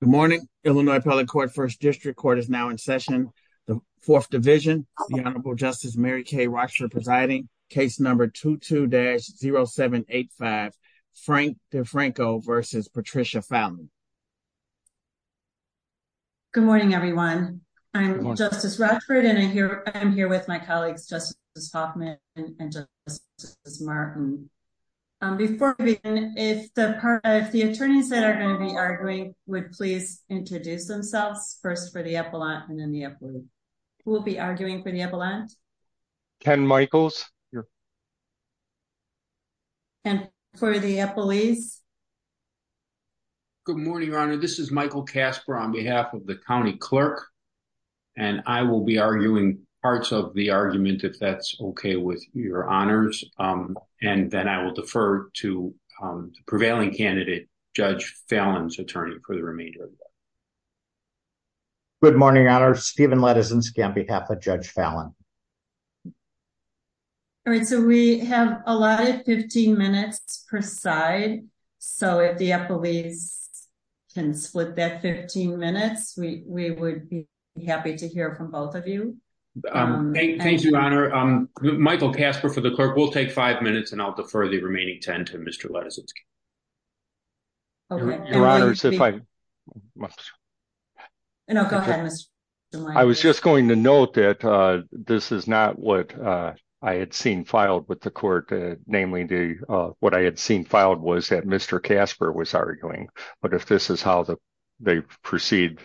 Good morning, Illinois public court first district court is now in session. The fourth division, the Honorable Justice Mary Kay Rochford presiding case number two to dash 0785 Frank DeFranco versus Patricia family. Good morning, everyone. I'm Justice Rochford and I'm here, I'm here with my colleagues Justice Hoffman and Martin. Before we begin, if the part of the attorneys that are going to be arguing, would please introduce themselves first for the epaulette and then we will be arguing for the epaulette. Ken Michaels. And for the police. Good morning, your honor. This is Michael Casper on behalf of the county clerk. And I will be arguing parts of the argument if that's okay with your honors. And then I will defer to prevailing candidate, Judge Fallon's attorney for the remainder. Good morning, our Stephen letters and scam behalf of Judge Fallon. All right, so we have a lot of 15 minutes per side. So if the police can split that 15 minutes we would be happy to hear from both of you. Thank you, Your Honor. Michael Casper for the clerk will take five minutes and I'll defer the remaining 10 to Mr lessons. If I must. I was just going to note that this is not what I had seen filed with the court, namely the what I had seen filed was that Mr Casper was arguing, but if this is how they proceed.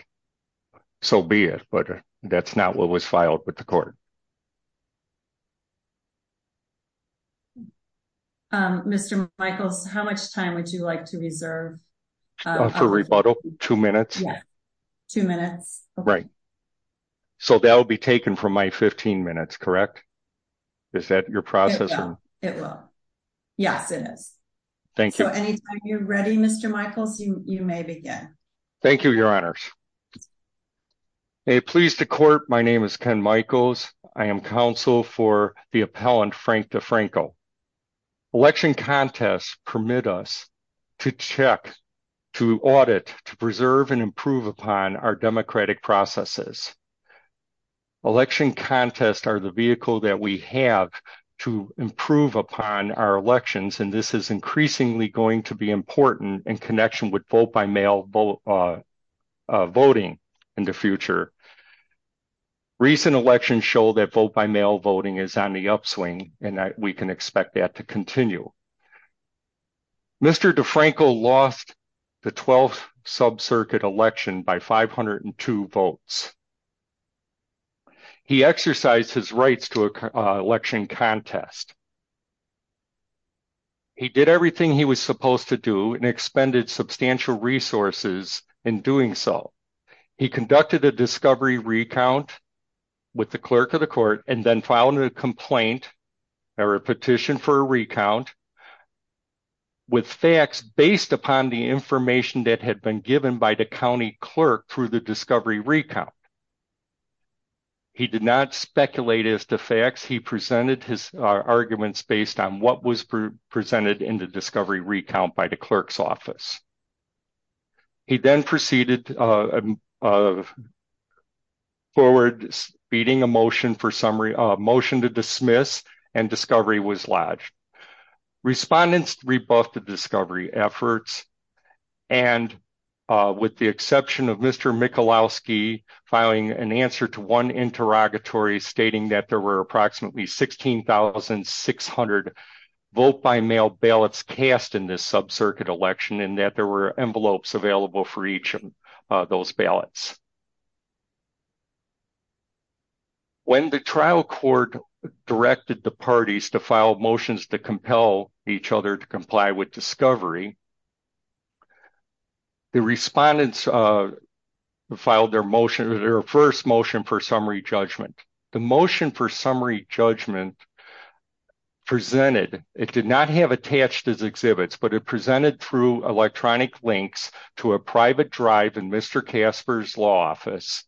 So be it, but that's not what was filed with the court. Mr. Michaels, how much time would you like to reserve for rebuttal, two minutes, two minutes. Right. So they'll be taken from my 15 minutes correct. Is that your process. It will. Yes, it is. Thank you. Anytime you're ready Mr Michaels, you may begin. Thank you, Your Honors. Pleased to court, my name is Ken Michaels, I am counsel for the appellant Frank DeFranco election contest permit us to check to audit to preserve and improve upon our democratic processes. Election contests are the vehicle that we have to improve upon our elections and this is increasingly going to be important in connection with vote by mail vote voting in the future. Recent election show that vote by mail voting is on the upswing, and we can expect that to continue. Mr DeFranco lost the 12th sub circuit election by 502 votes. He exercise his rights to election contest. He did everything he was supposed to do and expended substantial resources in doing so. He conducted a discovery recount with the clerk of the court, and then file a complaint or a petition for a recount with facts based upon the information that had been given by the county clerk through the discovery recount. He did not speculate as to facts he presented his arguments based on what was presented in the discovery recount by the clerk's office. He then proceeded forward speeding a motion for summary motion to dismiss and discovery was lodged. Respondents rebuffed the discovery efforts, and with the exception of Mr Michalowski filing an answer to one interrogatory stating that there were approximately 16,600 vote by mail ballots cast in this sub circuit election and that there were envelopes available for each of those ballots. When the trial court directed the parties to file motions to compel each other to comply with discovery, the respondents filed their motion, their first motion for summary judgment. The motion for summary judgment presented, it did not have attached as exhibits, but it presented through electronic links to a private drive and Mr Casper's law office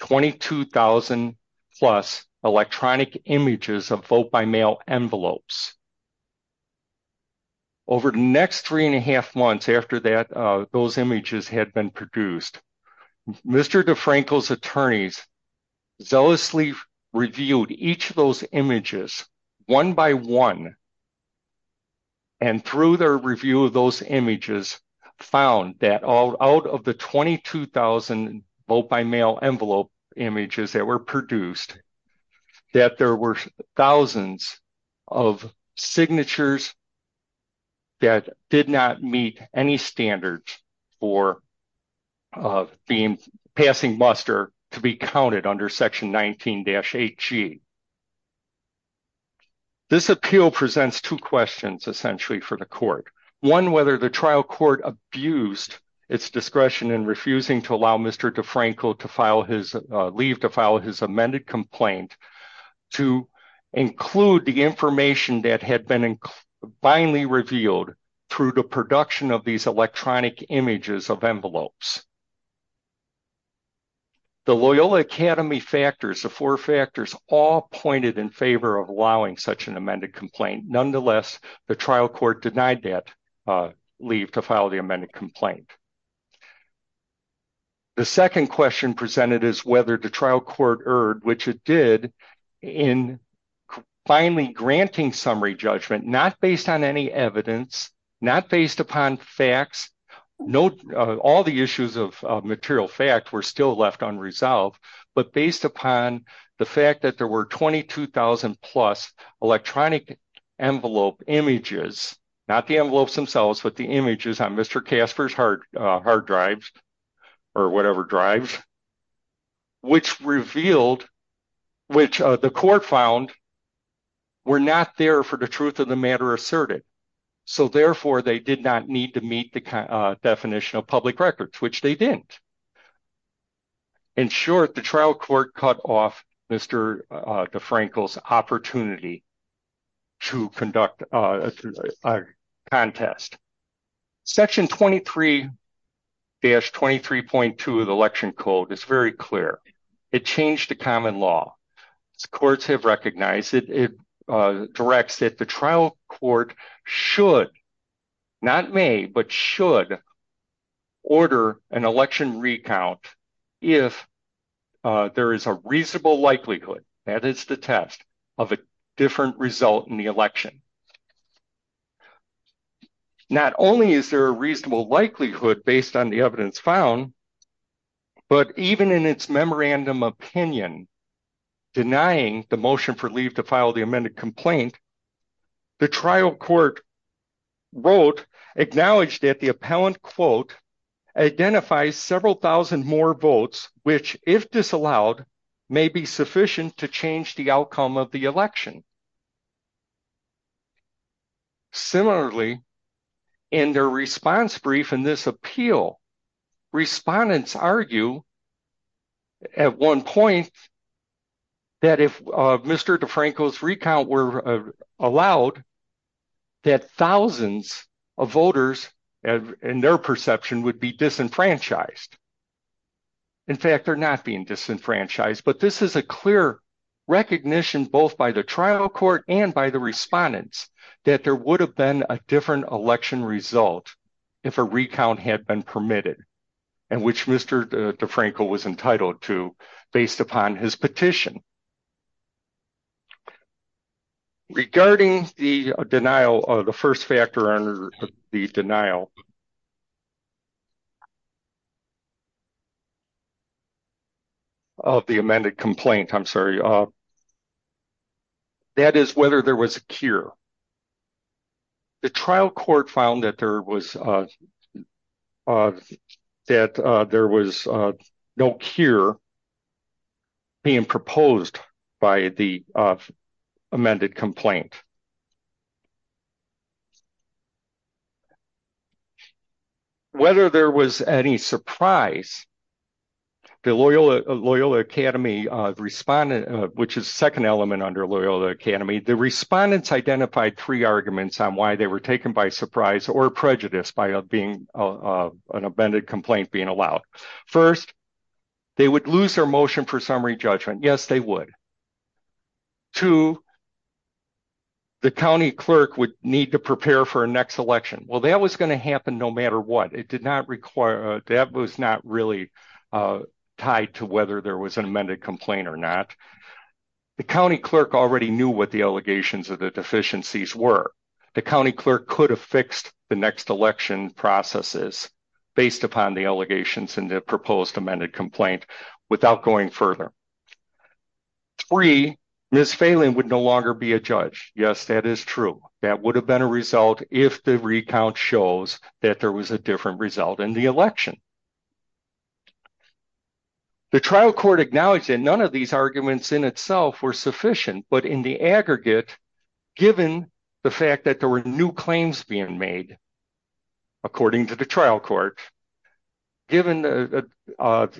22,000 plus electronic images of vote by mail envelopes. Over the next three and a half months after that those images had been produced, Mr DeFranco's attorneys zealously reviewed each of those images one by one. And through their review of those images found that out of the 22,000 vote by mail envelope images that were produced, that there were thousands of signatures that did not meet any standards for passing muster to be counted under section 19-8G. This appeal presents two questions essentially for the court. One, whether the trial court abused its discretion in refusing to allow Mr DeFranco to leave to file his amended complaint to include the information that had been blindly revealed through the production of these electronic images of envelopes. The Loyola Academy factors, the four factors all pointed in favor of allowing such an amended complaint. Nonetheless, the trial court denied that leave to file the amended complaint. The second question presented is whether the trial court erred, which it did in finally granting summary judgment, not based on any evidence, not based upon facts. All the issues of material fact were still left unresolved, but based upon the fact that there were 22,000 plus electronic envelope images, not the envelopes themselves, but the images on Mr. Casper's hard drives or whatever drives, which revealed, which the court found were not there for the truth of the matter asserted. So therefore they did not need to meet the definition of public records, which they didn't. In short, the trial court cut off Mr. DeFranco's opportunity to conduct a contest. Section 23-23.2 of the Election Code is very clear. It changed the common law. Courts have recognized it. It directs that the trial court should, not may, but should order an election recount if there is a reasonable likelihood that it's the test of a different result in the election. Not only is there a reasonable likelihood based on the evidence found, but even in its memorandum opinion, denying the motion for leave to file the amended complaint, the trial court wrote, acknowledged that the appellant, quote, identifies several thousand more votes, which, if disallowed, may be sufficient to change the outcome of the election. Similarly, in their response brief in this appeal, respondents argue at one point that if Mr. DeFranco's recount were allowed, that thousands of voters, in their perception, would be disenfranchised. In fact, they're not being disenfranchised, but this is a clear recognition, both by the trial court and by the respondents, that there would have been a different election result if a recount had been permitted, and which Mr. DeFranco was entitled to based upon his petition. Regarding the denial, the first factor under the denial of the amended complaint, I'm sorry, that is whether there was a cure. The trial court found that there was no cure being proposed by the amended complaint. Whether there was any surprise, the Loyola Academy, which is the second element under Loyola Academy, the respondents identified three arguments on why they were taken by surprise or prejudice by an amended complaint being allowed. First, they would lose their motion for summary judgment. Yes, they would. Two, the county clerk would need to prepare for a next election. Well, that was going to happen no matter what. That was not really tied to whether there was an amended complaint or not. The county clerk already knew what the allegations of the deficiencies were. The county clerk could have fixed the next election processes based upon the allegations in the proposed amended complaint without going further. Three, Ms. Phelan would no longer be a judge. Yes, that is true. That would have been a result if the recount shows that there was a different result in the election. The trial court acknowledged that none of these arguments in itself were sufficient, but in the aggregate, given the fact that there were new claims being made, according to the trial court, given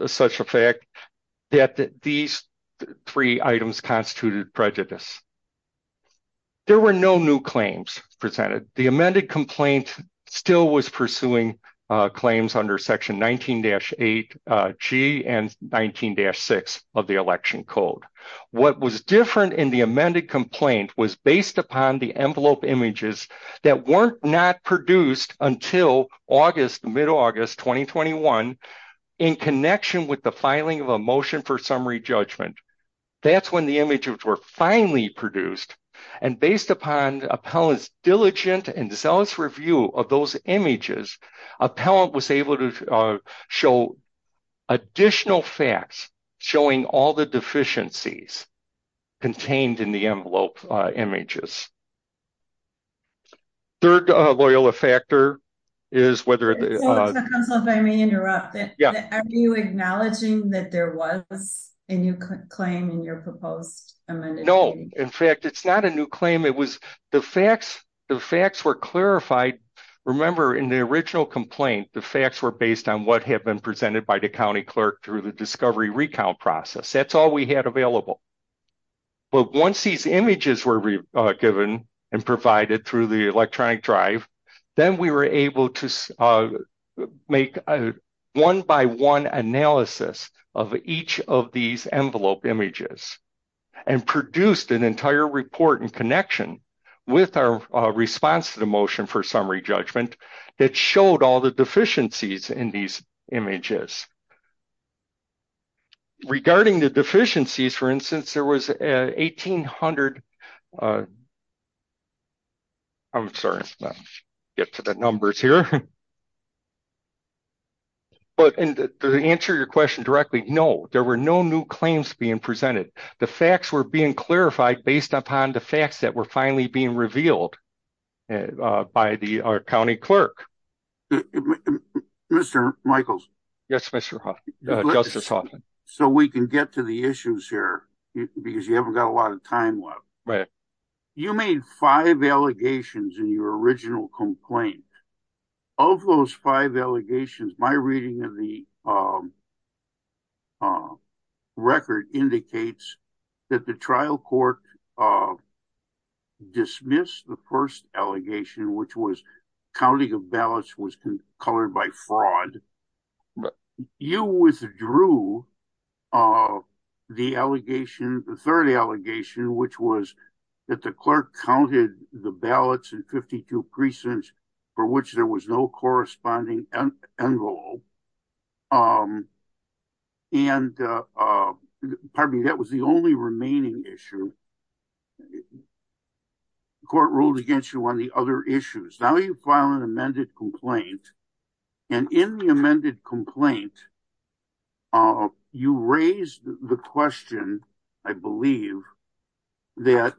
such a fact that these three items constituted prejudice. There were no new claims presented. The amended complaint still was pursuing claims under Section 19-8G and 19-6 of the Election Code. What was different in the amended complaint was based upon the envelope images that were not produced until mid-August 2021 in connection with the filing of a motion for summary judgment. That's when the images were finally produced, and based upon Appellant's diligent and zealous review of those images, Appellant was able to show additional facts showing all the deficiencies contained in the envelope images. Are you acknowledging that there was a new claim in your proposed amended complaint? No. In fact, it's not a new claim. The facts were clarified. Remember, in the original complaint, the facts were based on what had been presented by the county clerk through the discovery recount process. That's all we had available. But once these images were given and provided through the electronic drive, then we were able to make a one-by-one analysis of each of these envelope images and produced an entire report in connection with our response to the motion for summary judgment that showed all the deficiencies in these images. Regarding the deficiencies, for instance, there were 1,800 claims presented. The facts were being clarified based upon the facts that were finally being revealed by the county clerk. Mr. Michaels? Yes, Mr. Hoffman, Justice Hoffman. So we can get to the issues here, because you haven't got a lot of time left. Right. You made five allegations in your original complaint. Of those five allegations, my reading of the record indicates that the trial court dismissed the first allegation, which was counting of ballots was colored by fraud. You withdrew the third allegation, which was that the clerk counted the ballots in 52 precincts for which there was no corresponding envelope. And pardon me, that was the only remaining issue. The court ruled against you on the other issues. Now you file an amended complaint. And in the amended complaint, you raised the question, I believe, that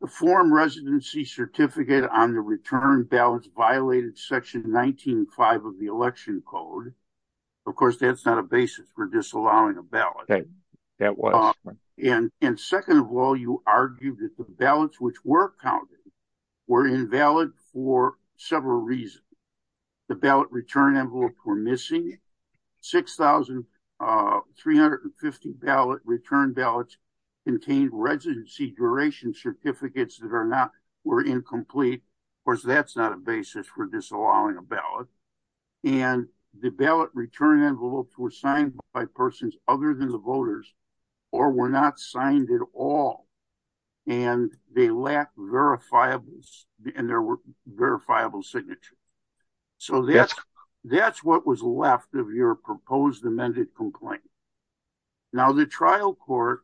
the form residency certificate on the return ballots violated section 19-5 of the election code. Of course, that's not a basis for disallowing a ballot. That was. And second of all, you argued that the ballots which were counted were invalid for several reasons. The ballot return envelopes were missing. 6,350 return ballots contained residency duration certificates that were incomplete. Of course, that's not a basis for disallowing a ballot. And the ballot return envelopes were signed by persons other than the voters or were not signed at all. And they lack verifiable and there were verifiable signature. So that's that's what was left of your proposed amended complaint. Now, the trial court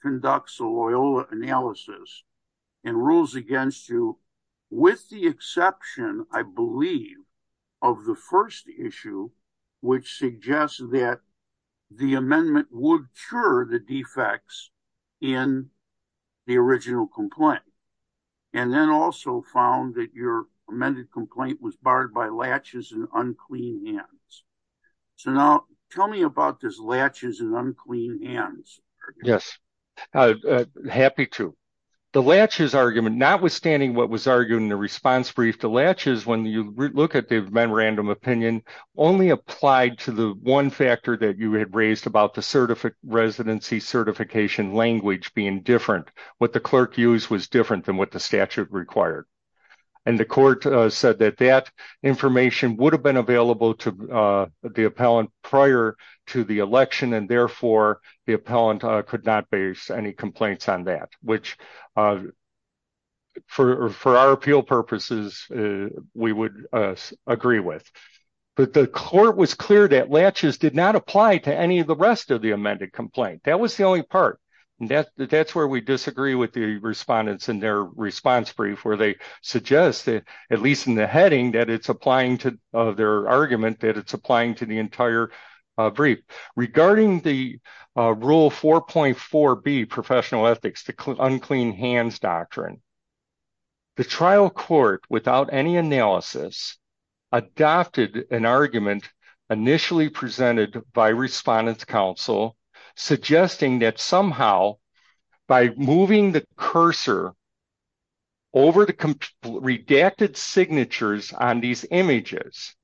conducts a Loyola analysis and rules against you with the exception, I believe, of the first issue, which suggests that the amendment would cure the defects in the original complaint. And then also found that your amended complaint was barred by latches and unclean hands. So now tell me about this latches and unclean hands. Yes, happy to. The latches argument, notwithstanding what was argued in the response brief, the latches, when you look at the memorandum opinion, only applied to the one factor that you had raised about the certificate residency certification language being different. What the clerk used was different than what the statute required. And the court said that that information would have been available to the appellant prior to the election. And therefore, the appellant could not base any complaints on that, which for our appeal purposes, we would agree with. But the court was clear that latches did not apply to any of the rest of the amended complaint. That was the only part. And that's where we disagree with the respondents in their response brief, where they suggested, at least in the heading, that it's applying to their argument, that it's applying to the entire brief. Regarding the Rule 4.4b Professional Ethics, the unclean hands doctrine, the trial court, without any analysis, adopted an argument initially presented by Respondent's Counsel, suggesting that somehow, by moving the cursor over the redacted signatures on these images,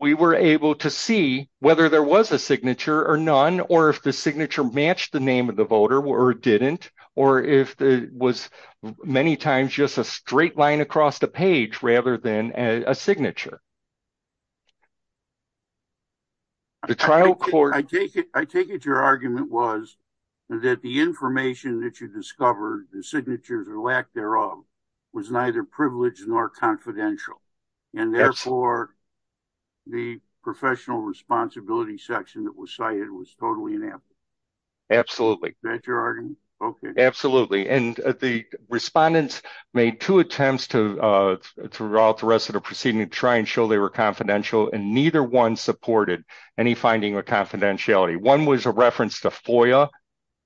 we were able to see whether there was a signature or none, or if the signature matched the name of the voter or didn't, or if it was many times just a straight line across the page rather than a signature. I take it your argument was that the information that you discovered, the signatures or lack thereof, was neither privileged nor confidential. And therefore, the professional responsibility section that was cited was totally inept. Absolutely. Absolutely. And the respondents made two attempts throughout the rest of the proceeding to try and show they were confidential, and neither one supported any finding of confidentiality. One was a reference to FOIA,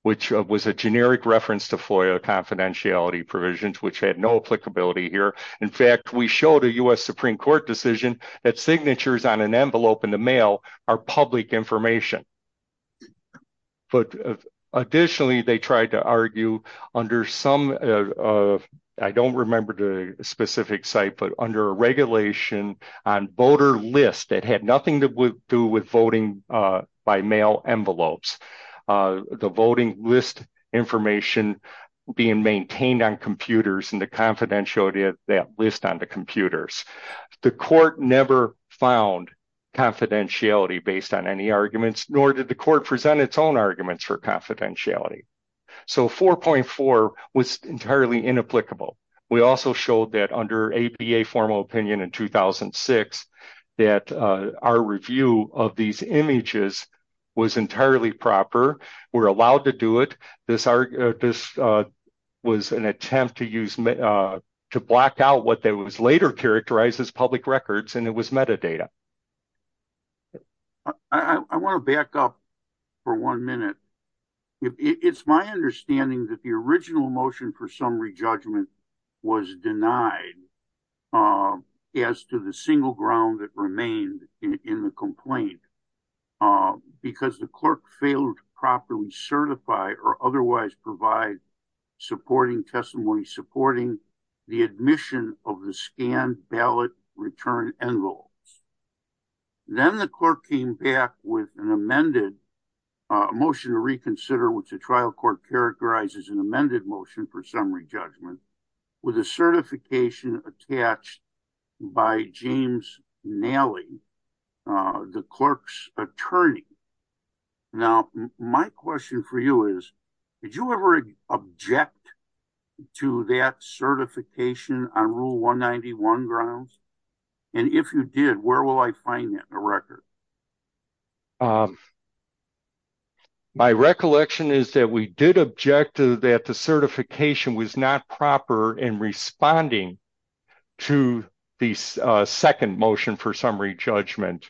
which was a generic reference to FOIA confidentiality provisions, which had no applicability here. In fact, we showed a U.S. Supreme Court decision that signatures on an envelope in the mail are public information. But additionally, they tried to argue under some, I don't remember the specific site, but under a regulation on voter list that had nothing to do with voting by mail envelopes, the voting list information being maintained on computers and the confidentiality of that list on the computers. The court never found confidentiality based on any arguments, nor did the court present its own arguments for confidentiality. So 4.4 was entirely inapplicable. We also showed that under APA formal opinion in 2006, that our review of these images was entirely proper. We're allowed to do it. This was an attempt to block out what was later characterized as public records, and it was metadata. I want to back up for one minute. It's my understanding that the original motion for summary judgment was denied as to the single ground that remained in the complaint, because the clerk failed to properly certify or otherwise provide supporting testimony, supporting the admission of the scanned ballot return envelope. Then the court came back with an amended motion to reconsider, which the trial court characterizes an amended motion for summary judgment with a certification attached by James Nally, the clerk's attorney. Now, my question for you is, did you ever object to that certification on Rule 191 grounds? And if you did, where will I find that in the record? My recollection is that we did object to that the certification was not proper in responding to the second motion for summary judgment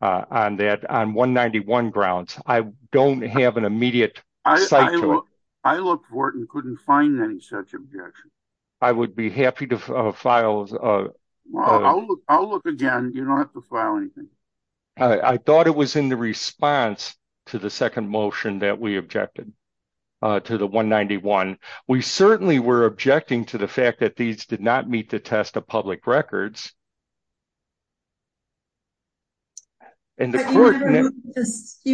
on that on 191 grounds. I don't have an immediate sight to it. I looked for it and couldn't find any such objection. I would be happy to file. I'll look again. You don't have to file anything. I thought it was in the response to the second motion that we objected to the 191. We certainly were objecting to the fact that these did not meet the test of public records. You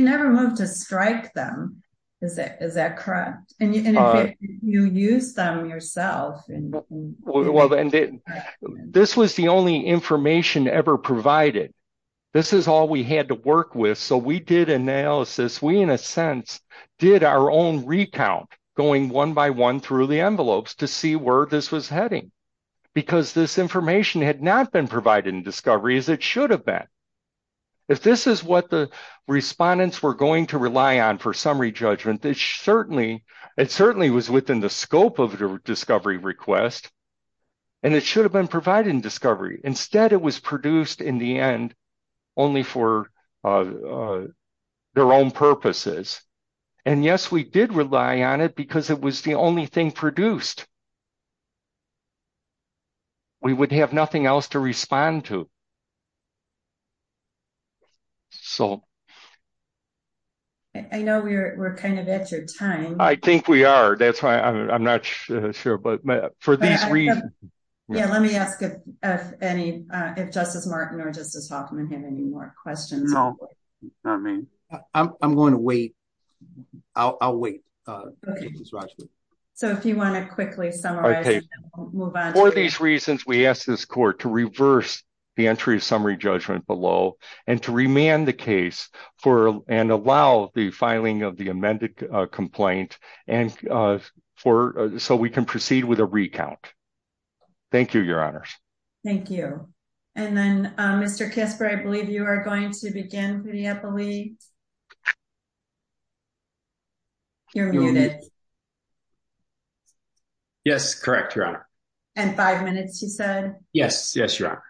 never moved to strike them. Is that correct? And you use them yourself. This was the only information ever provided. This is all we had to work with. So we did analysis. We, in a sense, did our own recount going one by one through the envelopes to see where this was heading. Because this information had not been provided in discovery as it should have been. If this is what the respondents were going to rely on for summary judgment, it certainly was within the scope of the discovery request. And it should have been provided in discovery. Instead, it was produced in the end only for their own purposes. And yes, we did rely on it because it was the only thing produced. We would have nothing else to respond to. So. I know we're kind of at your time. I think we are. That's why I'm not sure. But for these reasons. Let me ask if Justice Martin or Justice Hoffman have any more questions. I'm going to wait. I'll wait. So if you want to quickly summarize. For these reasons, we ask this court to reverse the entry of summary judgment below and to remand the case for and allow the filing of the amended complaint. And for so we can proceed with a recount. Thank you, Your Honors. Thank you. And then, Mr. Kasper, I believe you are going to begin. You're muted. Yes, correct, Your Honor. And five minutes, you said? Yes. Yes, Your Honor.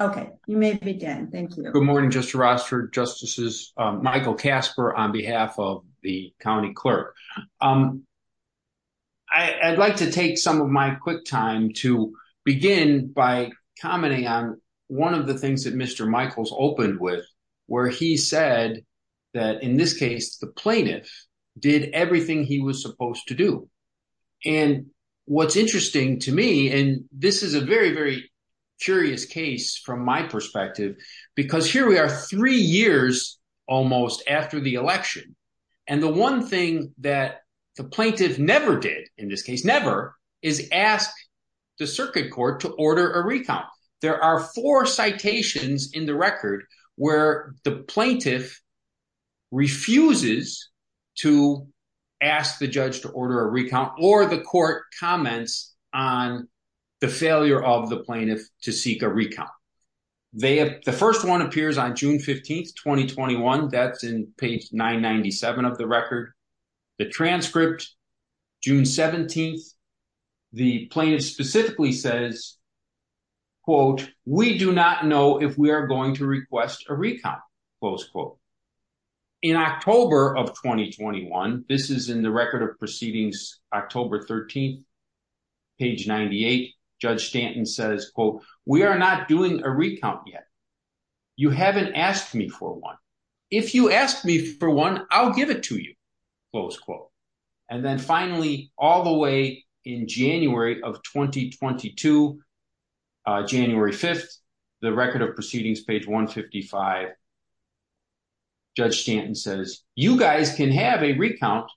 Okay, you may begin. Thank you. Good morning, Justice Rossford, Justices, Michael Kasper on behalf of the county clerk. I'd like to take some of my quick time to begin by commenting on one of the things that Mr. Michaels opened with, where he said that in this case, the plaintiff did everything he was supposed to do. And what's interesting to me, and this is a very, very curious case from my perspective, because here we are three years almost after the election. And the one thing that the plaintiff never did in this case, never, is ask the circuit court to order a recount. There are four citations in the record where the plaintiff refuses to ask the judge to order a recount or the court comments on the failure of the plaintiff to seek a recount. The first one appears on June 15, 2021. That's in page 997 of the record. The transcript, June 17, the plaintiff specifically says, quote, we do not know if we are going to request a recount, close quote. In October of 2021, this is in the record of proceedings, October 13, page 98, Judge Stanton says, quote, we are not doing a recount yet. You haven't asked me for one. If you ask me for one, I'll give it to you, close quote. And then finally, all the way in January of 2022, January 5th, the record of proceedings, page 155, Judge Stanton says, you guys can have a recount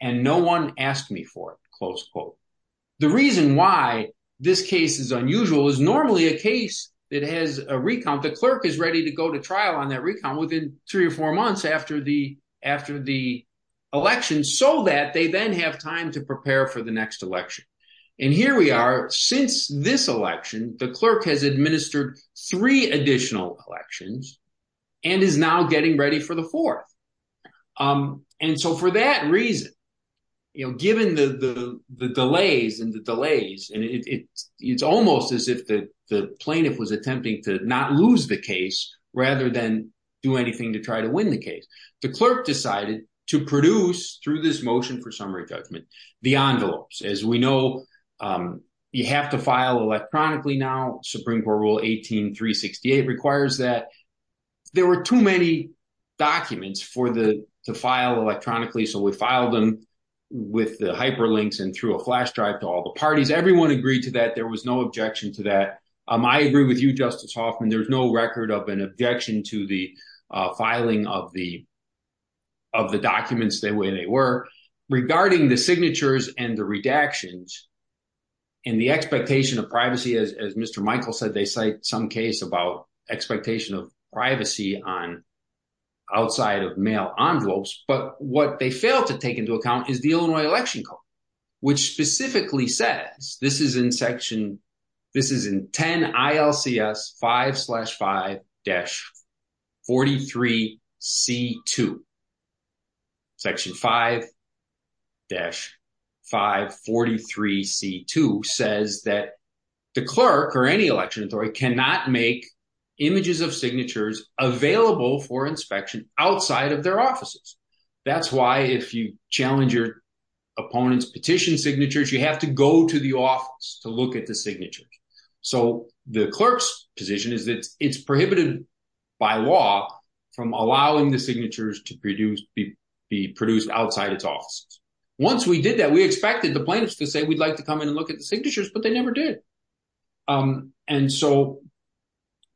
and no one asked me for it, close quote. The reason why this case is unusual is normally a case that has a recount, the clerk is ready to go to trial on that recount within three or four months after the election so that they then have time to prepare for the next election. And here we are, since this election, the clerk has administered three additional elections and is now getting ready for the fourth. And so for that reason, given the delays and the delays, it's almost as if the plaintiff was attempting to not lose the case rather than do anything to try to win the case. The clerk decided to produce, through this motion for summary judgment, the envelopes. As we know, you have to file electronically now. Supreme Court Rule 18-368 requires that. There were too many documents for the file electronically, so we filed them with the hyperlinks and through a flash drive to all the parties. Everyone agreed to that. There was no objection to that. I agree with you, Justice Hoffman. There's no record of an objection to the filing of the documents the way they were. Regarding the signatures and the redactions and the expectation of privacy, as Mr. Michael said, they cite some case about expectation of privacy outside of mail envelopes. But what they fail to take into account is the Illinois Election Code, which specifically says, this is in section, this is in 10 ILCS 5-5-43C2. Section 5-5-43C2 says that the clerk or any election authority cannot make images of signatures available for inspection outside of their offices. That's why if you challenge your opponent's petition signatures, you have to go to the office to look at the signature. So the clerk's position is that it's prohibited by law from allowing the signatures to be produced outside its offices. Once we did that, we expected the plaintiffs to say we'd like to come in and look at the signatures, but they never did. And so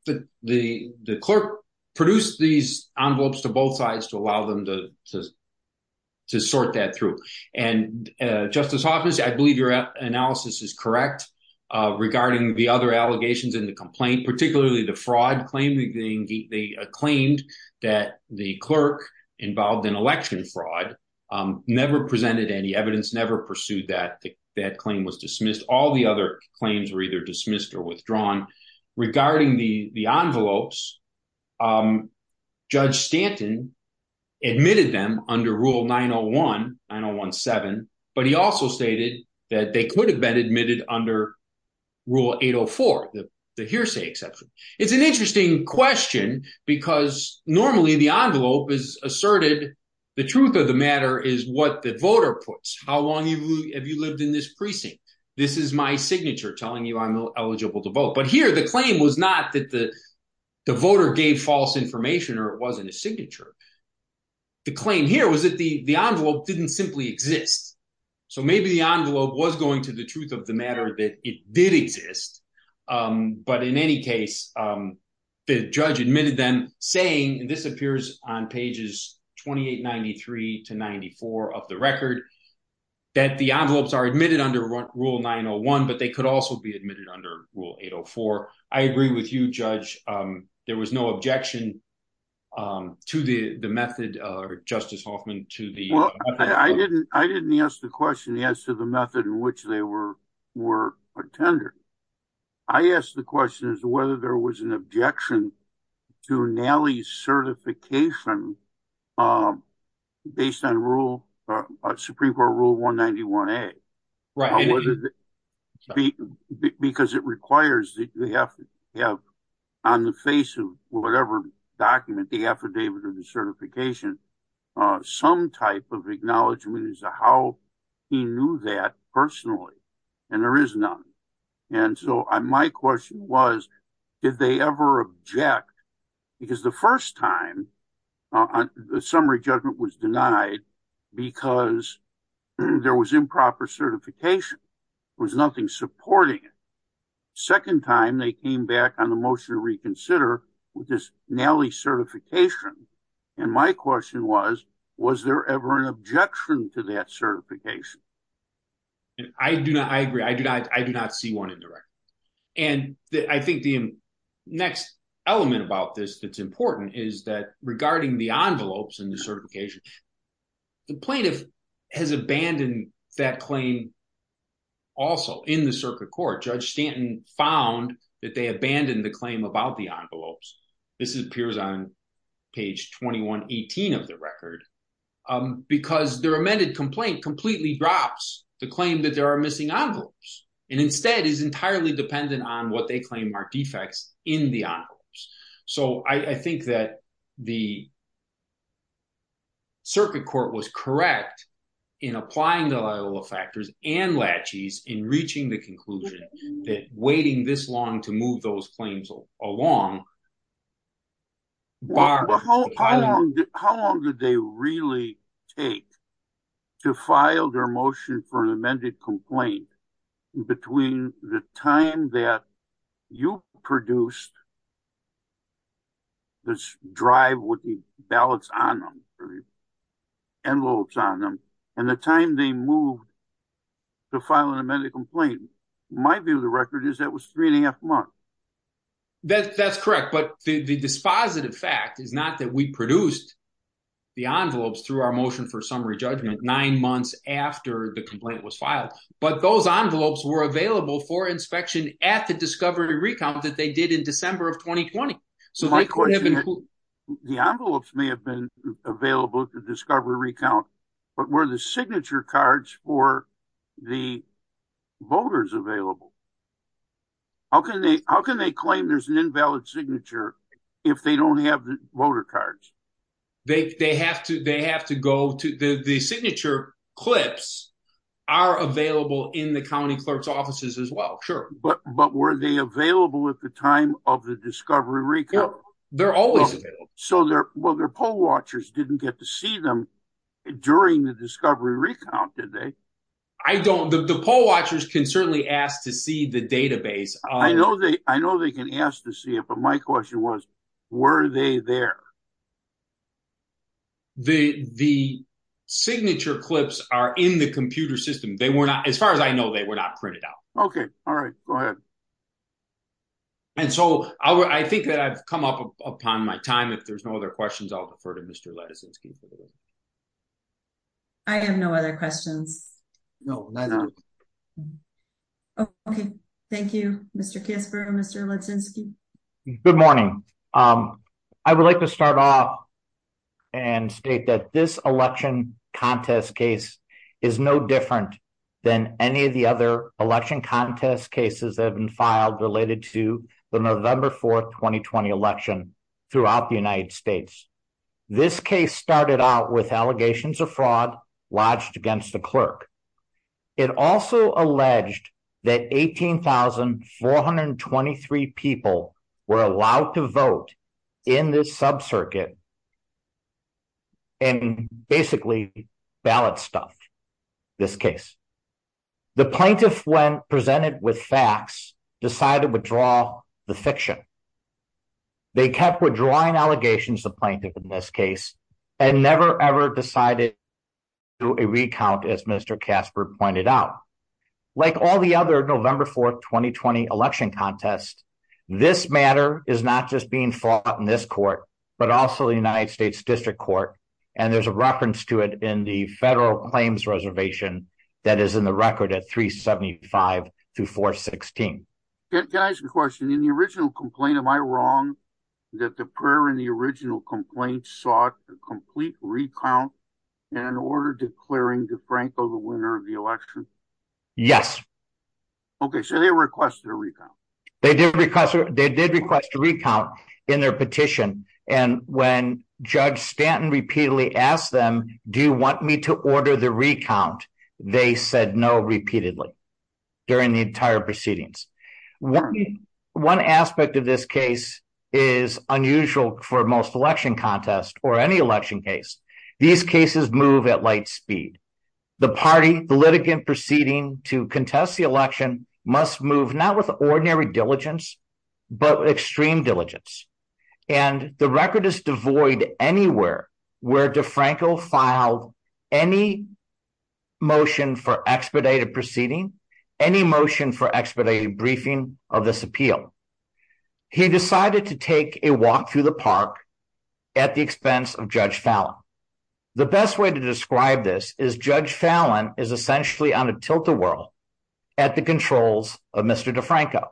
the clerk produced these envelopes to both sides to allow them to sort that through. And Justice Hoffman, I believe your analysis is correct regarding the other allegations in the complaint, particularly the fraud claim. They claimed that the clerk involved in election fraud never presented any evidence, never pursued that. That claim was dismissed. All the other claims were either dismissed or withdrawn. Regarding the envelopes, Judge Stanton admitted them under Rule 901, 901-7. But he also stated that they could have been admitted under Rule 804, the hearsay exception. It's an interesting question because normally the envelope is asserted. The truth of the matter is what the voter puts. How long have you lived in this precinct? This is my signature telling you I'm eligible to vote. But here the claim was not that the voter gave false information or it wasn't a signature. The claim here was that the envelope didn't simply exist. So maybe the envelope was going to the truth of the matter that it did exist. But in any case, the judge admitted them saying, and this appears on pages 2893 to 94 of the record, that the envelopes are admitted under Rule 901, but they could also be admitted under Rule 804. I agree with you, Judge. There was no objection to the method, Justice Hoffman, to the method. I didn't ask the question as to the method in which they were attended. I asked the question as to whether there was an objection to Nally's certification based on Supreme Court Rule 191A. Because it requires that you have to have on the face of whatever document, the affidavit or the certification, some type of acknowledgment as to how he knew that personally. And there is none. And so my question was, did they ever object? Because the first time, the summary judgment was denied because there was improper certification. There was nothing supporting it. Second time, they came back on the motion to reconsider with this Nally certification. And my question was, was there ever an objection to that certification? I agree. I do not see one in the record. And I think the next element about this that's important is that regarding the envelopes and the certification, the plaintiff has abandoned that claim also in the circuit court. Judge Stanton found that they abandoned the claim about the envelopes. This appears on page 2118 of the record. Because their amended complaint completely drops the claim that there are missing envelopes. And instead is entirely dependent on what they claim are defects in the envelopes. So I think that the circuit court was correct in applying the level of factors and latches in reaching the conclusion that waiting this long to move those claims along. How long did they really take to file their motion for an amended complaint? Between the time that you produced this drive with the ballots on them, and the time they moved to file an amended complaint. My view of the record is that was three and a half months. That's correct. But the dispositive fact is not that we produced the envelopes through our motion for summary judgment nine months after the complaint was filed. But those envelopes were available for inspection at the discovery recount that they did in December of 2020. My question is, the envelopes may have been available at the discovery recount, but were the signature cards for the voters available? How can they claim there's an invalid signature if they don't have the voter cards? The signature clips are available in the county clerk's offices as well, sure. But were they available at the time of the discovery recount? They're always available. So their poll watchers didn't get to see them during the discovery recount, did they? The poll watchers can certainly ask to see the database. I know they can ask to see it, but my question was, were they there? The signature clips are in the computer system. As far as I know, they were not printed out. Okay, all right, go ahead. And so I think that I've come up upon my time. If there's no other questions, I'll defer to Mr. Leticinski for the day. I have no other questions. No, neither do I. Okay, thank you, Mr. Kasper and Mr. Leticinski. Good morning. I would like to start off and state that this election contest case is no different than any of the other election contest cases that have been filed related to the November 4th, 2020 election throughout the United States. This case started out with allegations of fraud lodged against the clerk. It also alleged that 18,423 people were allowed to vote in this subcircuit and basically ballot stuffed this case. The plaintiff, when presented with facts, decided to withdraw the fiction. They kept withdrawing allegations of plaintiff in this case and never ever decided to do a recount, as Mr. Kasper pointed out. Like all the other November 4th, 2020 election contest, this matter is not just being fought in this court, but also the United States District Court. And there's a reference to it in the federal claims reservation that is in the record at 375 to 416. Can I ask a question? In the original complaint, am I wrong that the prayer in the original complaint sought a complete recount and an order declaring DeFranco the winner of the election? Yes. Okay, so they requested a recount. They did request a recount in their petition. And when Judge Stanton repeatedly asked them, do you want me to order the recount? They said no repeatedly during the entire proceedings. One aspect of this case is unusual for most election contest or any election case. These cases move at light speed. The party, the litigant proceeding to contest the election must move not with ordinary diligence, but extreme diligence. And the record is devoid anywhere where DeFranco filed any motion for expedited proceeding, any motion for expedited briefing of this appeal. He decided to take a walk through the park at the expense of Judge Fallon. The best way to describe this is Judge Fallon is essentially on a tilt-a-whirl at the controls of Mr. DeFranco.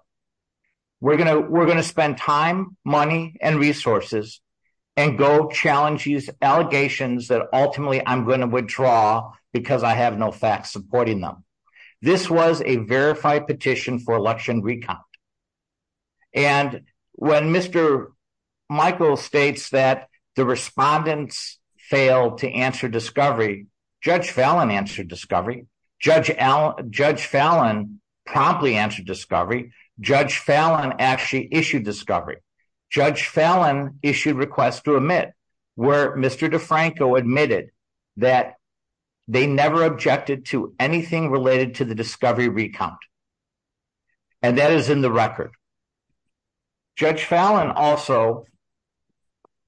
We're going to spend time, money, and resources and go challenge these allegations that ultimately I'm going to withdraw because I have no facts supporting them. This was a verified petition for election recount. And when Mr. Michael states that the respondents failed to answer discovery, Judge Fallon answered discovery. Judge Fallon promptly answered discovery. Judge Fallon actually issued discovery. Judge Fallon issued requests to admit where Mr. DeFranco admitted that they never objected to anything related to the discovery recount. And that is in the record. Judge Fallon also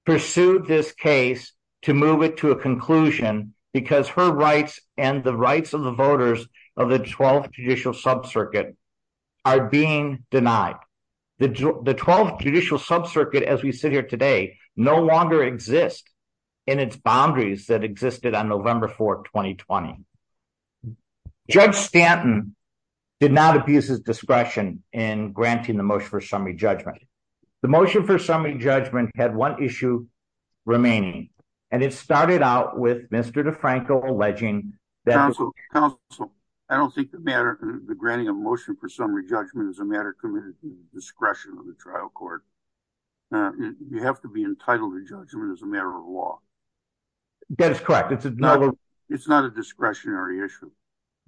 pursued this case to move it to a conclusion because her rights and the rights of the voters of the 12th Judicial Sub-Circuit are being denied. The 12th Judicial Sub-Circuit, as we sit here today, no longer exists in its boundaries that existed on November 4, 2020. Judge Stanton did not abuse his discretion in granting the motion for summary judgment. The motion for summary judgment had one issue remaining. And it started out with Mr. DeFranco alleging that... Counsel, I don't think the granting of motion for summary judgment is a matter of discretion of the trial court. You have to be entitled to judgment as a matter of law. That is correct. It's not a discretionary issue.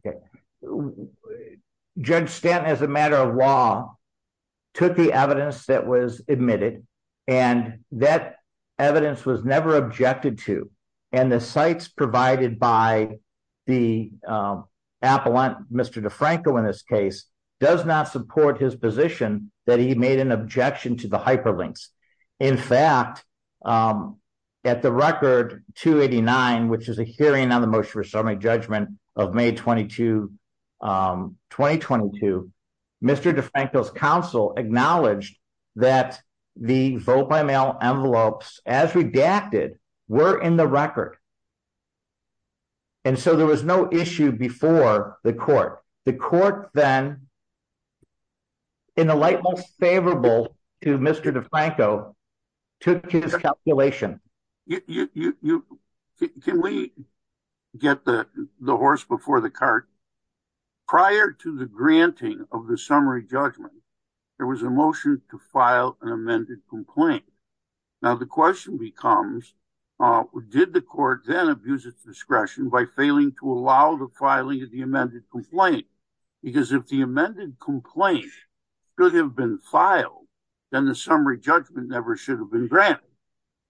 Okay. Judge Stanton, as a matter of law, took the evidence that was admitted and that evidence was never objected to. And the cites provided by the appellant, Mr. DeFranco in this case, does not support his position that he made an objection to the hyperlinks. In fact, at the record 289, which is a hearing on the motion for summary judgment of May 22, 2022, Mr. DeFranco's counsel acknowledged that the vote-by-mail envelopes as redacted were in the record. And so there was no issue before the court. The court then, in the light most favorable to Mr. DeFranco, took his calculation. Can we get the horse before the cart? Prior to the granting of the summary judgment, there was a motion to file an amended complaint. Now the question becomes, did the court then abuse its discretion by failing to allow the filing of the amended complaint? Because if the amended complaint could have been filed, then the summary judgment never should have been granted.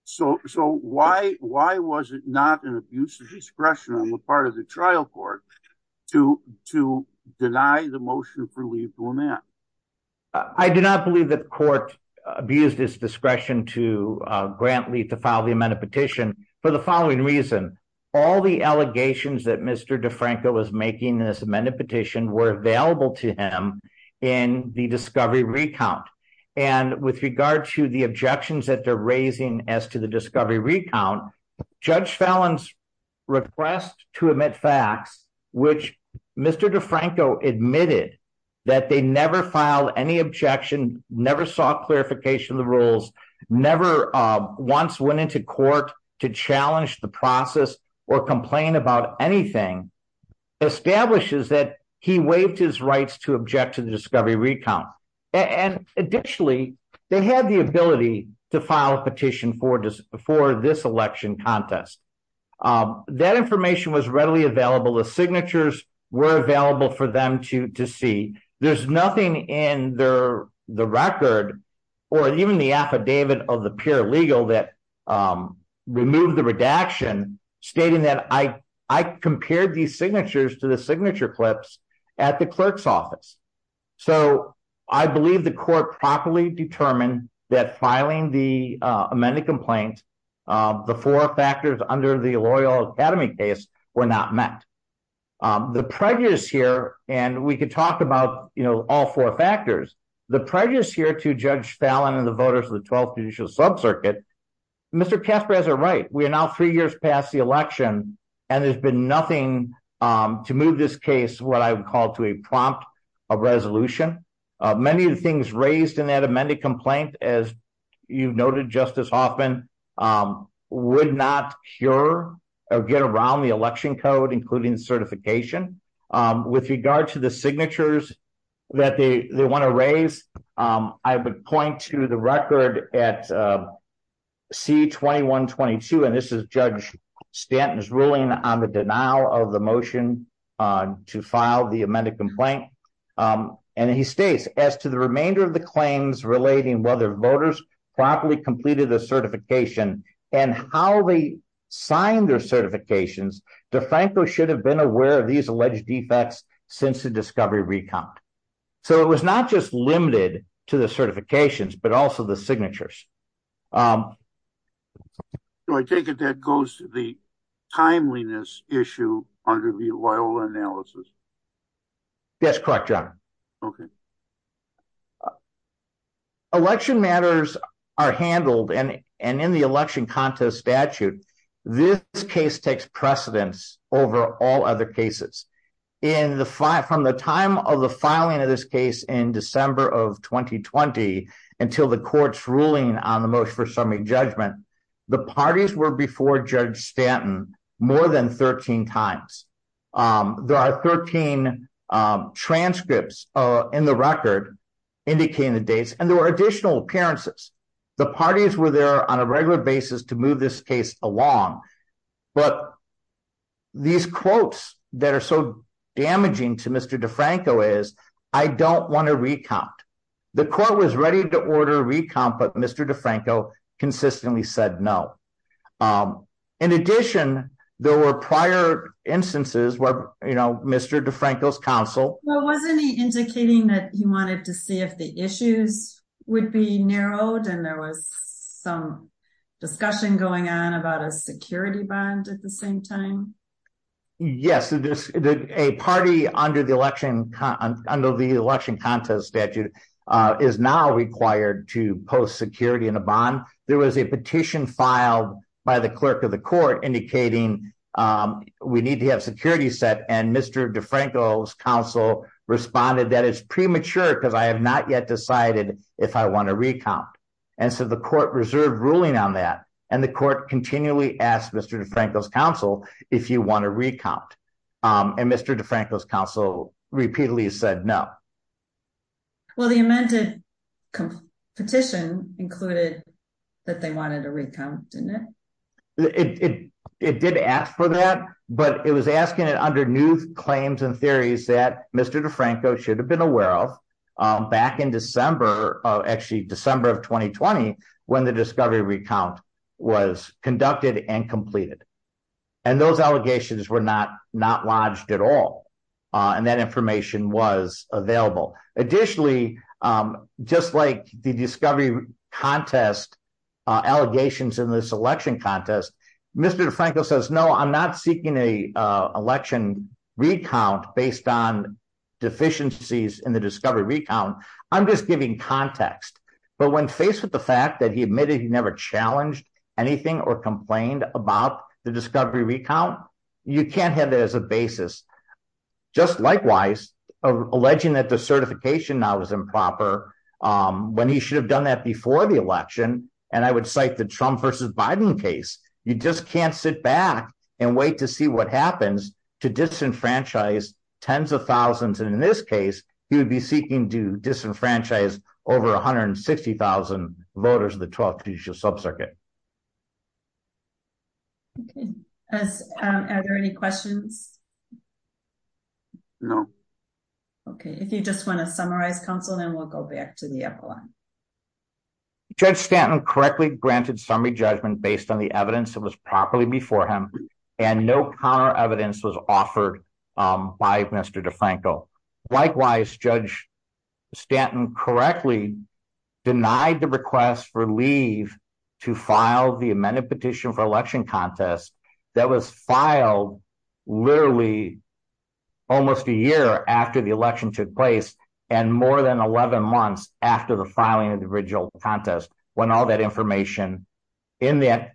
So why was it not an abuse of discretion on the part of the trial court to deny the motion for leave to amend? I do not believe that the court abused its discretion to grant leave to file the amended petition for the following reason. All the allegations that Mr. DeFranco was making in this amended petition were available to him in the discovery recount. And with regard to the objections that they're raising as to the discovery recount, Judge Fallon's request to admit facts, which Mr. DeFranco admitted that they never filed any objection, never sought clarification of the rules, never once went into court to challenge the process or complain about anything, establishes that he waived his rights to object to the discovery recount. And additionally, they had the ability to file a petition for this election contest. That information was readily available. The signatures were available for them to see. There's nothing in the record or even the affidavit of the peer legal that removed the redaction stating that I compared these signatures to the signature clips at the clerk's office. So I believe the court properly determined that filing the amended complaint, the four factors under the Loyal Academy case were not met. The prejudice here, and we could talk about all four factors, the prejudice here to Judge Fallon and the voters of the 12th Judicial Subcircuit, Mr. Casper has it right. We are now three years past the election, and there's been nothing to move this case, what I would call to a prompt of resolution. Many of the things raised in that amended complaint, as you noted Justice Hoffman, would not cure or get around the election code, including certification. With regard to the signatures that they want to raise, I would point to the record at C-2122, and this is Judge Stanton's ruling on the denial of the motion to file the amended complaint. And he states, as to the remainder of the claims relating whether voters properly completed the certification and how they signed their certifications, DeFranco should have been aware of these alleged defects since the discovery recount. So it was not just limited to the certifications, but also the signatures. So I take it that goes to the timeliness issue under the Loyola analysis? Yes, correct, John. Okay. Election matters are handled, and in the election contest statute, this case takes precedence over all other cases. From the time of the filing of this case in December of 2020 until the court's ruling on the motion for summary judgment, the parties were before Judge Stanton more than 13 times. There are 13 transcripts in the record indicating the dates, and there were additional appearances. The parties were there on a regular basis to move this case along. But these quotes that are so damaging to Mr. DeFranco is, I don't want to recount. The court was ready to order a recount, but Mr. DeFranco consistently said no. In addition, there were prior instances where Mr. DeFranco's counsel... Well, wasn't he indicating that he wanted to see if the issues would be narrowed, and there was some discussion going on about a security bond at the same time? Yes, a party under the election contest statute is now required to post security in a bond. There was a petition filed by the clerk of the court indicating we need to have security set, and Mr. DeFranco's counsel responded that it's premature because I have not yet decided if I want to recount. And so the court reserved ruling on that, and the court continually asked Mr. DeFranco's counsel if you want to recount. And Mr. DeFranco's counsel repeatedly said no. Well, the amended petition included that they wanted a recount, didn't it? It did ask for that, but it was asking it under new claims and theories that Mr. DeFranco should have been aware of. Back in December, actually December of 2020, when the discovery recount was conducted and completed. And those allegations were not lodged at all, and that information was available. Additionally, just like the discovery contest allegations in this election contest, Mr. DeFranco says, no, I'm not seeking an election recount based on deficiencies in the discovery recount. I'm just giving context. But when faced with the fact that he admitted he never challenged anything or complained about the discovery recount, you can't have that as a basis. Just likewise, alleging that the certification now was improper when he should have done that before the election, and I would cite the Trump versus Biden case. You just can't sit back and wait to see what happens to disenfranchise tens of thousands. And in this case, he would be seeking to disenfranchise over 160,000 voters of the 12th Judicial Subcircuit. Okay. Are there any questions? No. Okay. If you just want to summarize, counsel, then we'll go back to the upper line. Judge Stanton correctly granted summary judgment based on the evidence that was properly before him and no counter evidence was offered by Mr. DeFranco. Likewise, Judge Stanton correctly denied the request for leave to file the amended petition for election contest that was filed literally almost a year after the election took place and more than 11 months after the filing of the original contest when all that information in that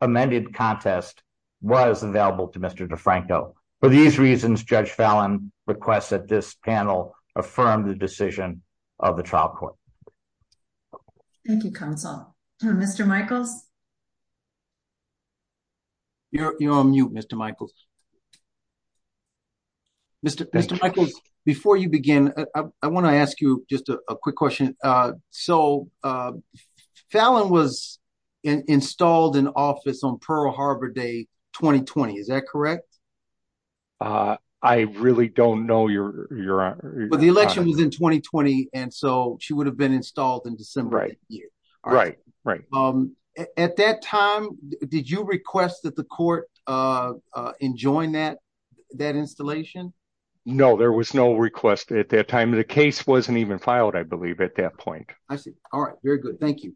amended contest was available to Mr. DeFranco. For these reasons, Judge Fallon requests that this panel affirm the decision of the trial court. Thank you, counsel. Mr. Michaels? You're on mute, Mr. Michaels. Mr. Michaels, before you begin, I want to ask you just a quick question. So Fallon was installed in office on Pearl Harbor Day 2020. Is that correct? I really don't know, Your Honor. But the election was in 2020, and so she would have been installed in December of that year. Right. At that time, did you request that the court enjoin that installation? No, there was no request at that time. The case wasn't even filed, I believe, at that point. I see. All right. Very good. Thank you.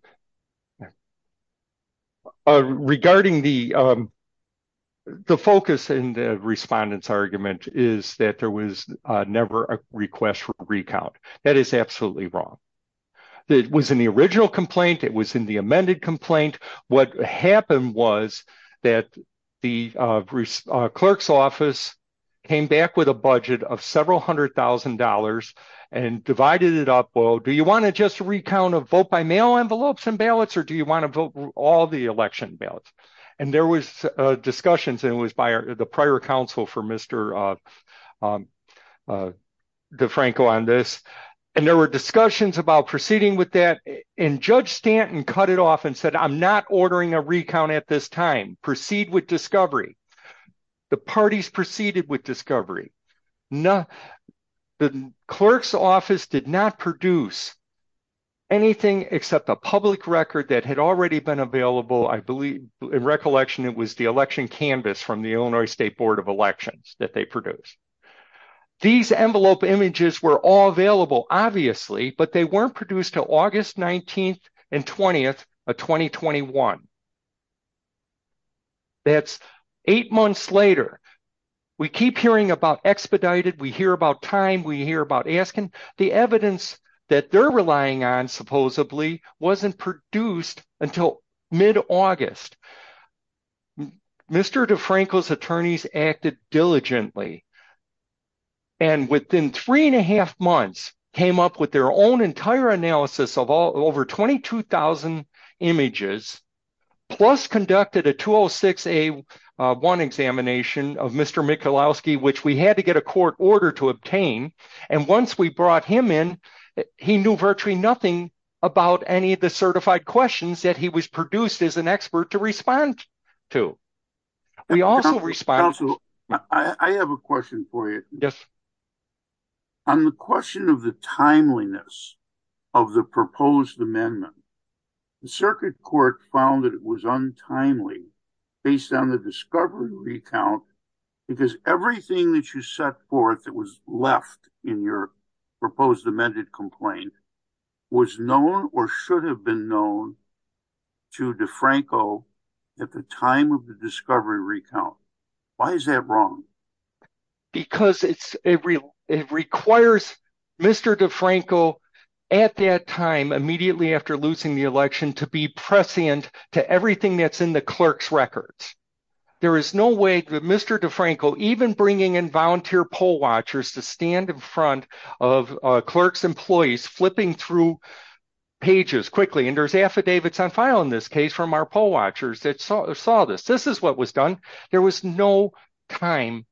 Regarding the focus in the respondent's argument is that there was never a request for recount. That is absolutely wrong. It was in the original complaint. It was in the amended complaint. What happened was that the clerk's office came back with a budget of several hundred thousand dollars and divided it up. Well, do you want to just recount a vote by mail envelopes and ballots, or do you want to vote all the election ballots? And there was discussions, and it was by the prior counsel for Mr. DeFranco on this. And there were discussions about proceeding with that. And Judge Stanton cut it off and said, I'm not ordering a recount at this time. Proceed with discovery. The parties proceeded with discovery. The clerk's office did not produce anything except a public record that had already been available. I believe, in recollection, it was the election canvas from the Illinois State Board of Elections that they produced. These envelope images were all available, obviously, but they weren't produced until August 19th and 20th of 2021. That's eight months later. We keep hearing about expedited. We hear about time. We hear about asking. The evidence that they're relying on, supposedly, wasn't produced until mid-August. Mr. DeFranco's attorneys acted diligently and within three and a half months came up with their own entire analysis of over 22,000 images plus conducted a 206A1 examination of Mr. Michalowski, which we had to get a court order to obtain. And once we brought him in, he knew virtually nothing about any of the certified questions that he was produced as an expert to respond to. We also responded- Counsel, I have a question for you. Yes. On the question of the timeliness of the proposed amendment, the circuit court found that it was untimely based on the discovery recount because everything that you set forth that was left in your proposed amended complaint was known or should have been known to DeFranco at the time of the discovery recount. Why is that wrong? Because it requires Mr. DeFranco, at that time, immediately after losing the election, to be prescient to everything that's in the clerk's records. There is no way that Mr. DeFranco, even bringing in volunteer poll watchers to stand in front of a clerk's employees flipping through pages quickly, and there's affidavits on file in this case from our poll watchers that saw this. This is what was done. There was no time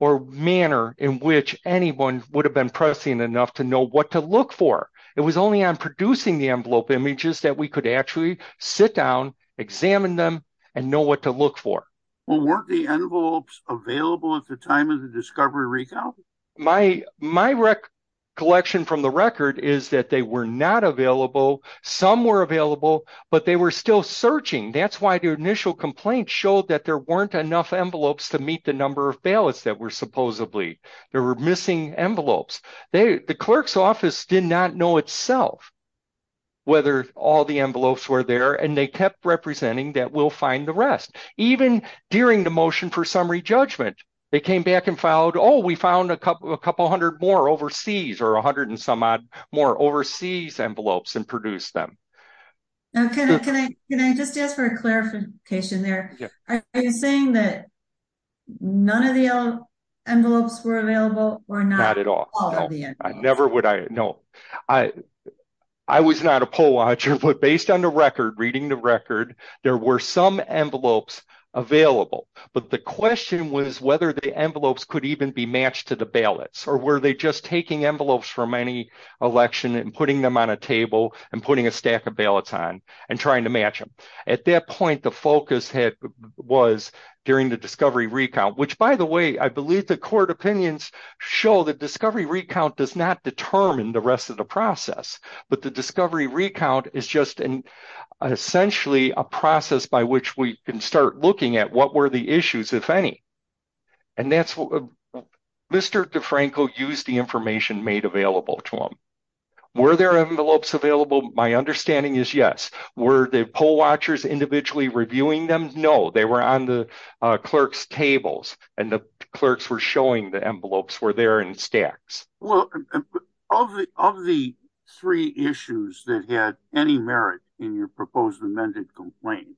or manner in which anyone would have been prescient enough to know what to look for. It was only on producing the envelope images that we could actually sit down, examine them, and know what to look for. Well, weren't the envelopes available at the time of the discovery recount? My recollection from the record is that they were not available. Some were available, but they were still searching. That's why the initial complaint showed that there weren't enough envelopes to meet the number of ballots that were supposedly. There were missing envelopes. The clerk's office did not know itself whether all the envelopes were there, and they kept representing that we'll find the rest. Even during the motion for summary judgment, they came back and followed, oh, we found a couple hundred more overseas or a hundred and some odd more overseas envelopes and produced them. Can I just ask for a clarification there? Are you saying that none of the envelopes were available or not? No, not at all. I was not a poll watcher, but based on the record, reading the record, there were some envelopes available, but the question was whether the envelopes could even be matched to the ballots or were they just taking envelopes from any election and putting them on a table and putting a stack of ballots on and trying to match them. At that point, the focus was during the discovery recount, which by the way, I believe the court opinions show the discovery recount does not determine the rest of the process, but the discovery recount is just essentially a process by which we can start looking at what were the issues, if any. And Mr. DeFranco used the information made available to him. Were there envelopes available? My understanding is yes. Were the poll watchers individually reviewing them? No, they were on the clerk's tables and the clerks were showing the envelopes were there in stacks. Well, of the three issues that had any merit in your proposed amended complaint,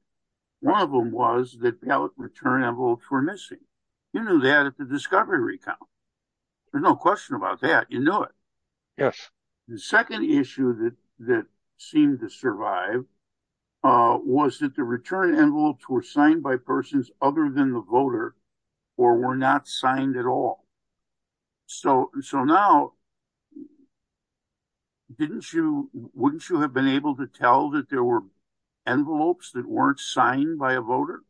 one of them was that ballot return envelopes were missing. You knew that at the discovery recount. There's no question about that. You knew it. Yes. The second issue that seemed to survive was that the return envelopes were signed by persons other than the voter or were not signed at all. So now, wouldn't you have been able to tell that there were envelopes that weren't signed by a voter?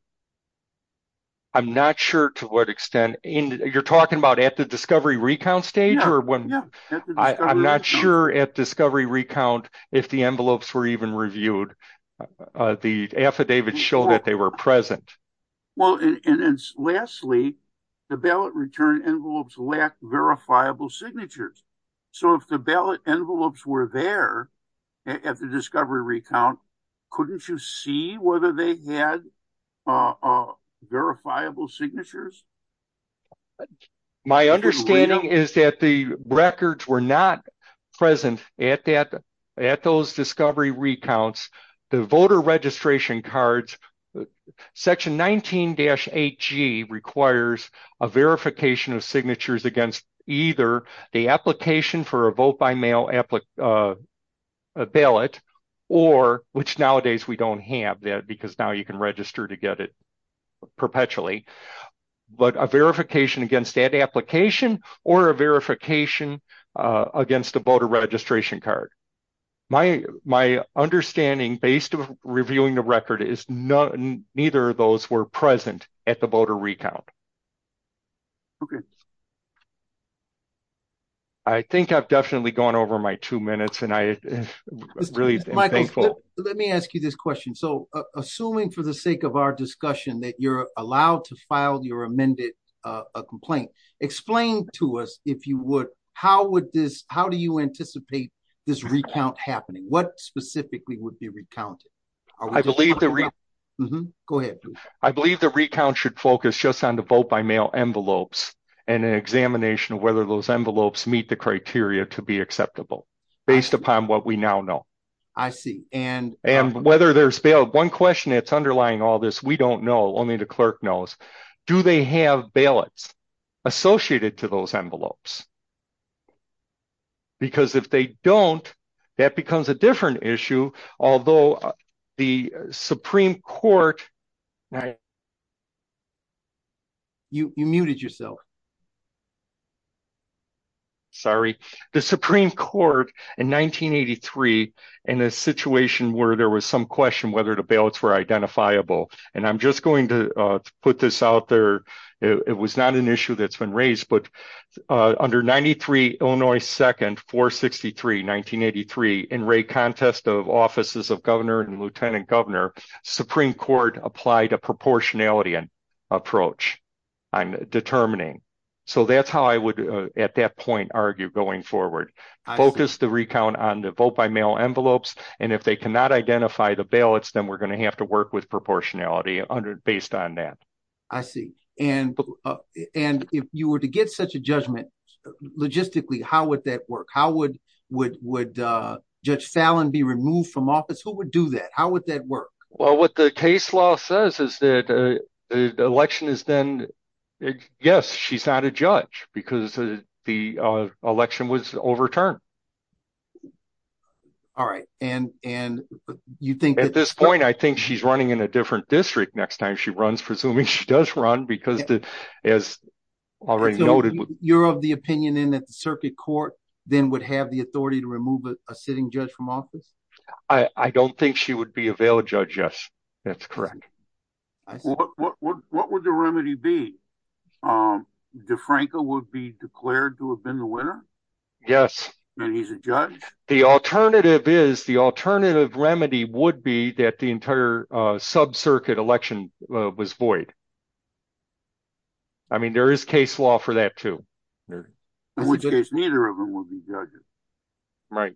I'm not sure to what extent. You're talking about at the discovery recount stage? I'm not sure at discovery recount if the envelopes were even reviewed. The affidavit showed that they were present. Well, and lastly, the ballot return envelopes lacked verifiable signatures. So if the ballot envelopes were there at the discovery recount, couldn't you see whether they had verifiable signatures? My understanding is that the records were not present at those discovery recounts. The voter registration cards, section 19-8G requires a verification of signatures against either the application for a vote-by-mail ballot, which nowadays we don't have that because now you can register to get it perpetually, but a verification against that application or a verification against a voter registration card. My understanding based on reviewing the record is that neither of those were present at the voter recount. Okay. I think I've definitely gone over my two minutes and I'm really thankful. Let me ask you this question. So assuming for the sake of our discussion that you're allowed to file your amended complaint, explain to us if you would, how do you anticipate this recount happening? What specifically would be recounted? Go ahead. I believe the recount should focus just on the vote-by-mail envelopes and an examination of whether those envelopes meet the criteria to be acceptable based upon what we now know. I see. One question that's underlying all this, we don't know, only the clerk knows, do they have ballots associated to those envelopes? Because if they don't, that becomes a different issue. Although the Supreme Court... You muted yourself. Sorry. The Supreme Court in 1983, in a situation where there was some question whether the ballots were identifiable, and I'm just going to put this out there. It was not an issue that's been raised, but under 93 Illinois 2nd 463 1983 in rate contest of offices of governor and lieutenant governor, Supreme Court applied a proportionality approach on determining. That's how I would, at that point, argue going forward. Focus the recount on the vote-by-mail envelopes, and if they cannot identify the ballots, then we're going to have to work with proportionality based on that. I see. If you were to get such a judgment logistically, how would that work? Would Judge Fallon be removed from office? Who would do that? How would that work? Well, what the case law says is that the election is then... Yes, she's not a judge because the election was overturned. All right. And you think that... At this point, I think she's running in a different district next time she runs, presuming she does run because, as already noted... You're of the opinion, then, that the circuit court then would have the authority to remove a sitting judge from office? I don't think she would be a veiled judge, yes. That's correct. What would the remedy be? DeFranco would be declared to have been the winner? Yes. And he's a judge? The alternative is, the alternative remedy would be that the entire sub-circuit election was void. I mean, there is case law for that, too. In which case, neither of them would be judges. Right.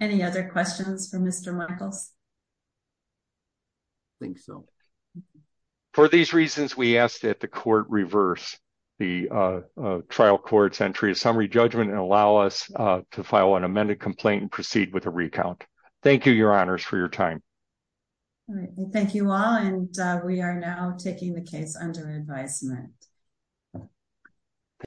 Any other questions for Mr. Michaels? I think so. For these reasons, we ask that the court reverse the trial court's entry of summary judgment and allow us to file an amended complaint and proceed with a recount. Thank you, Your Honors, for your time. Thank you all, and we are now taking the case under advisement.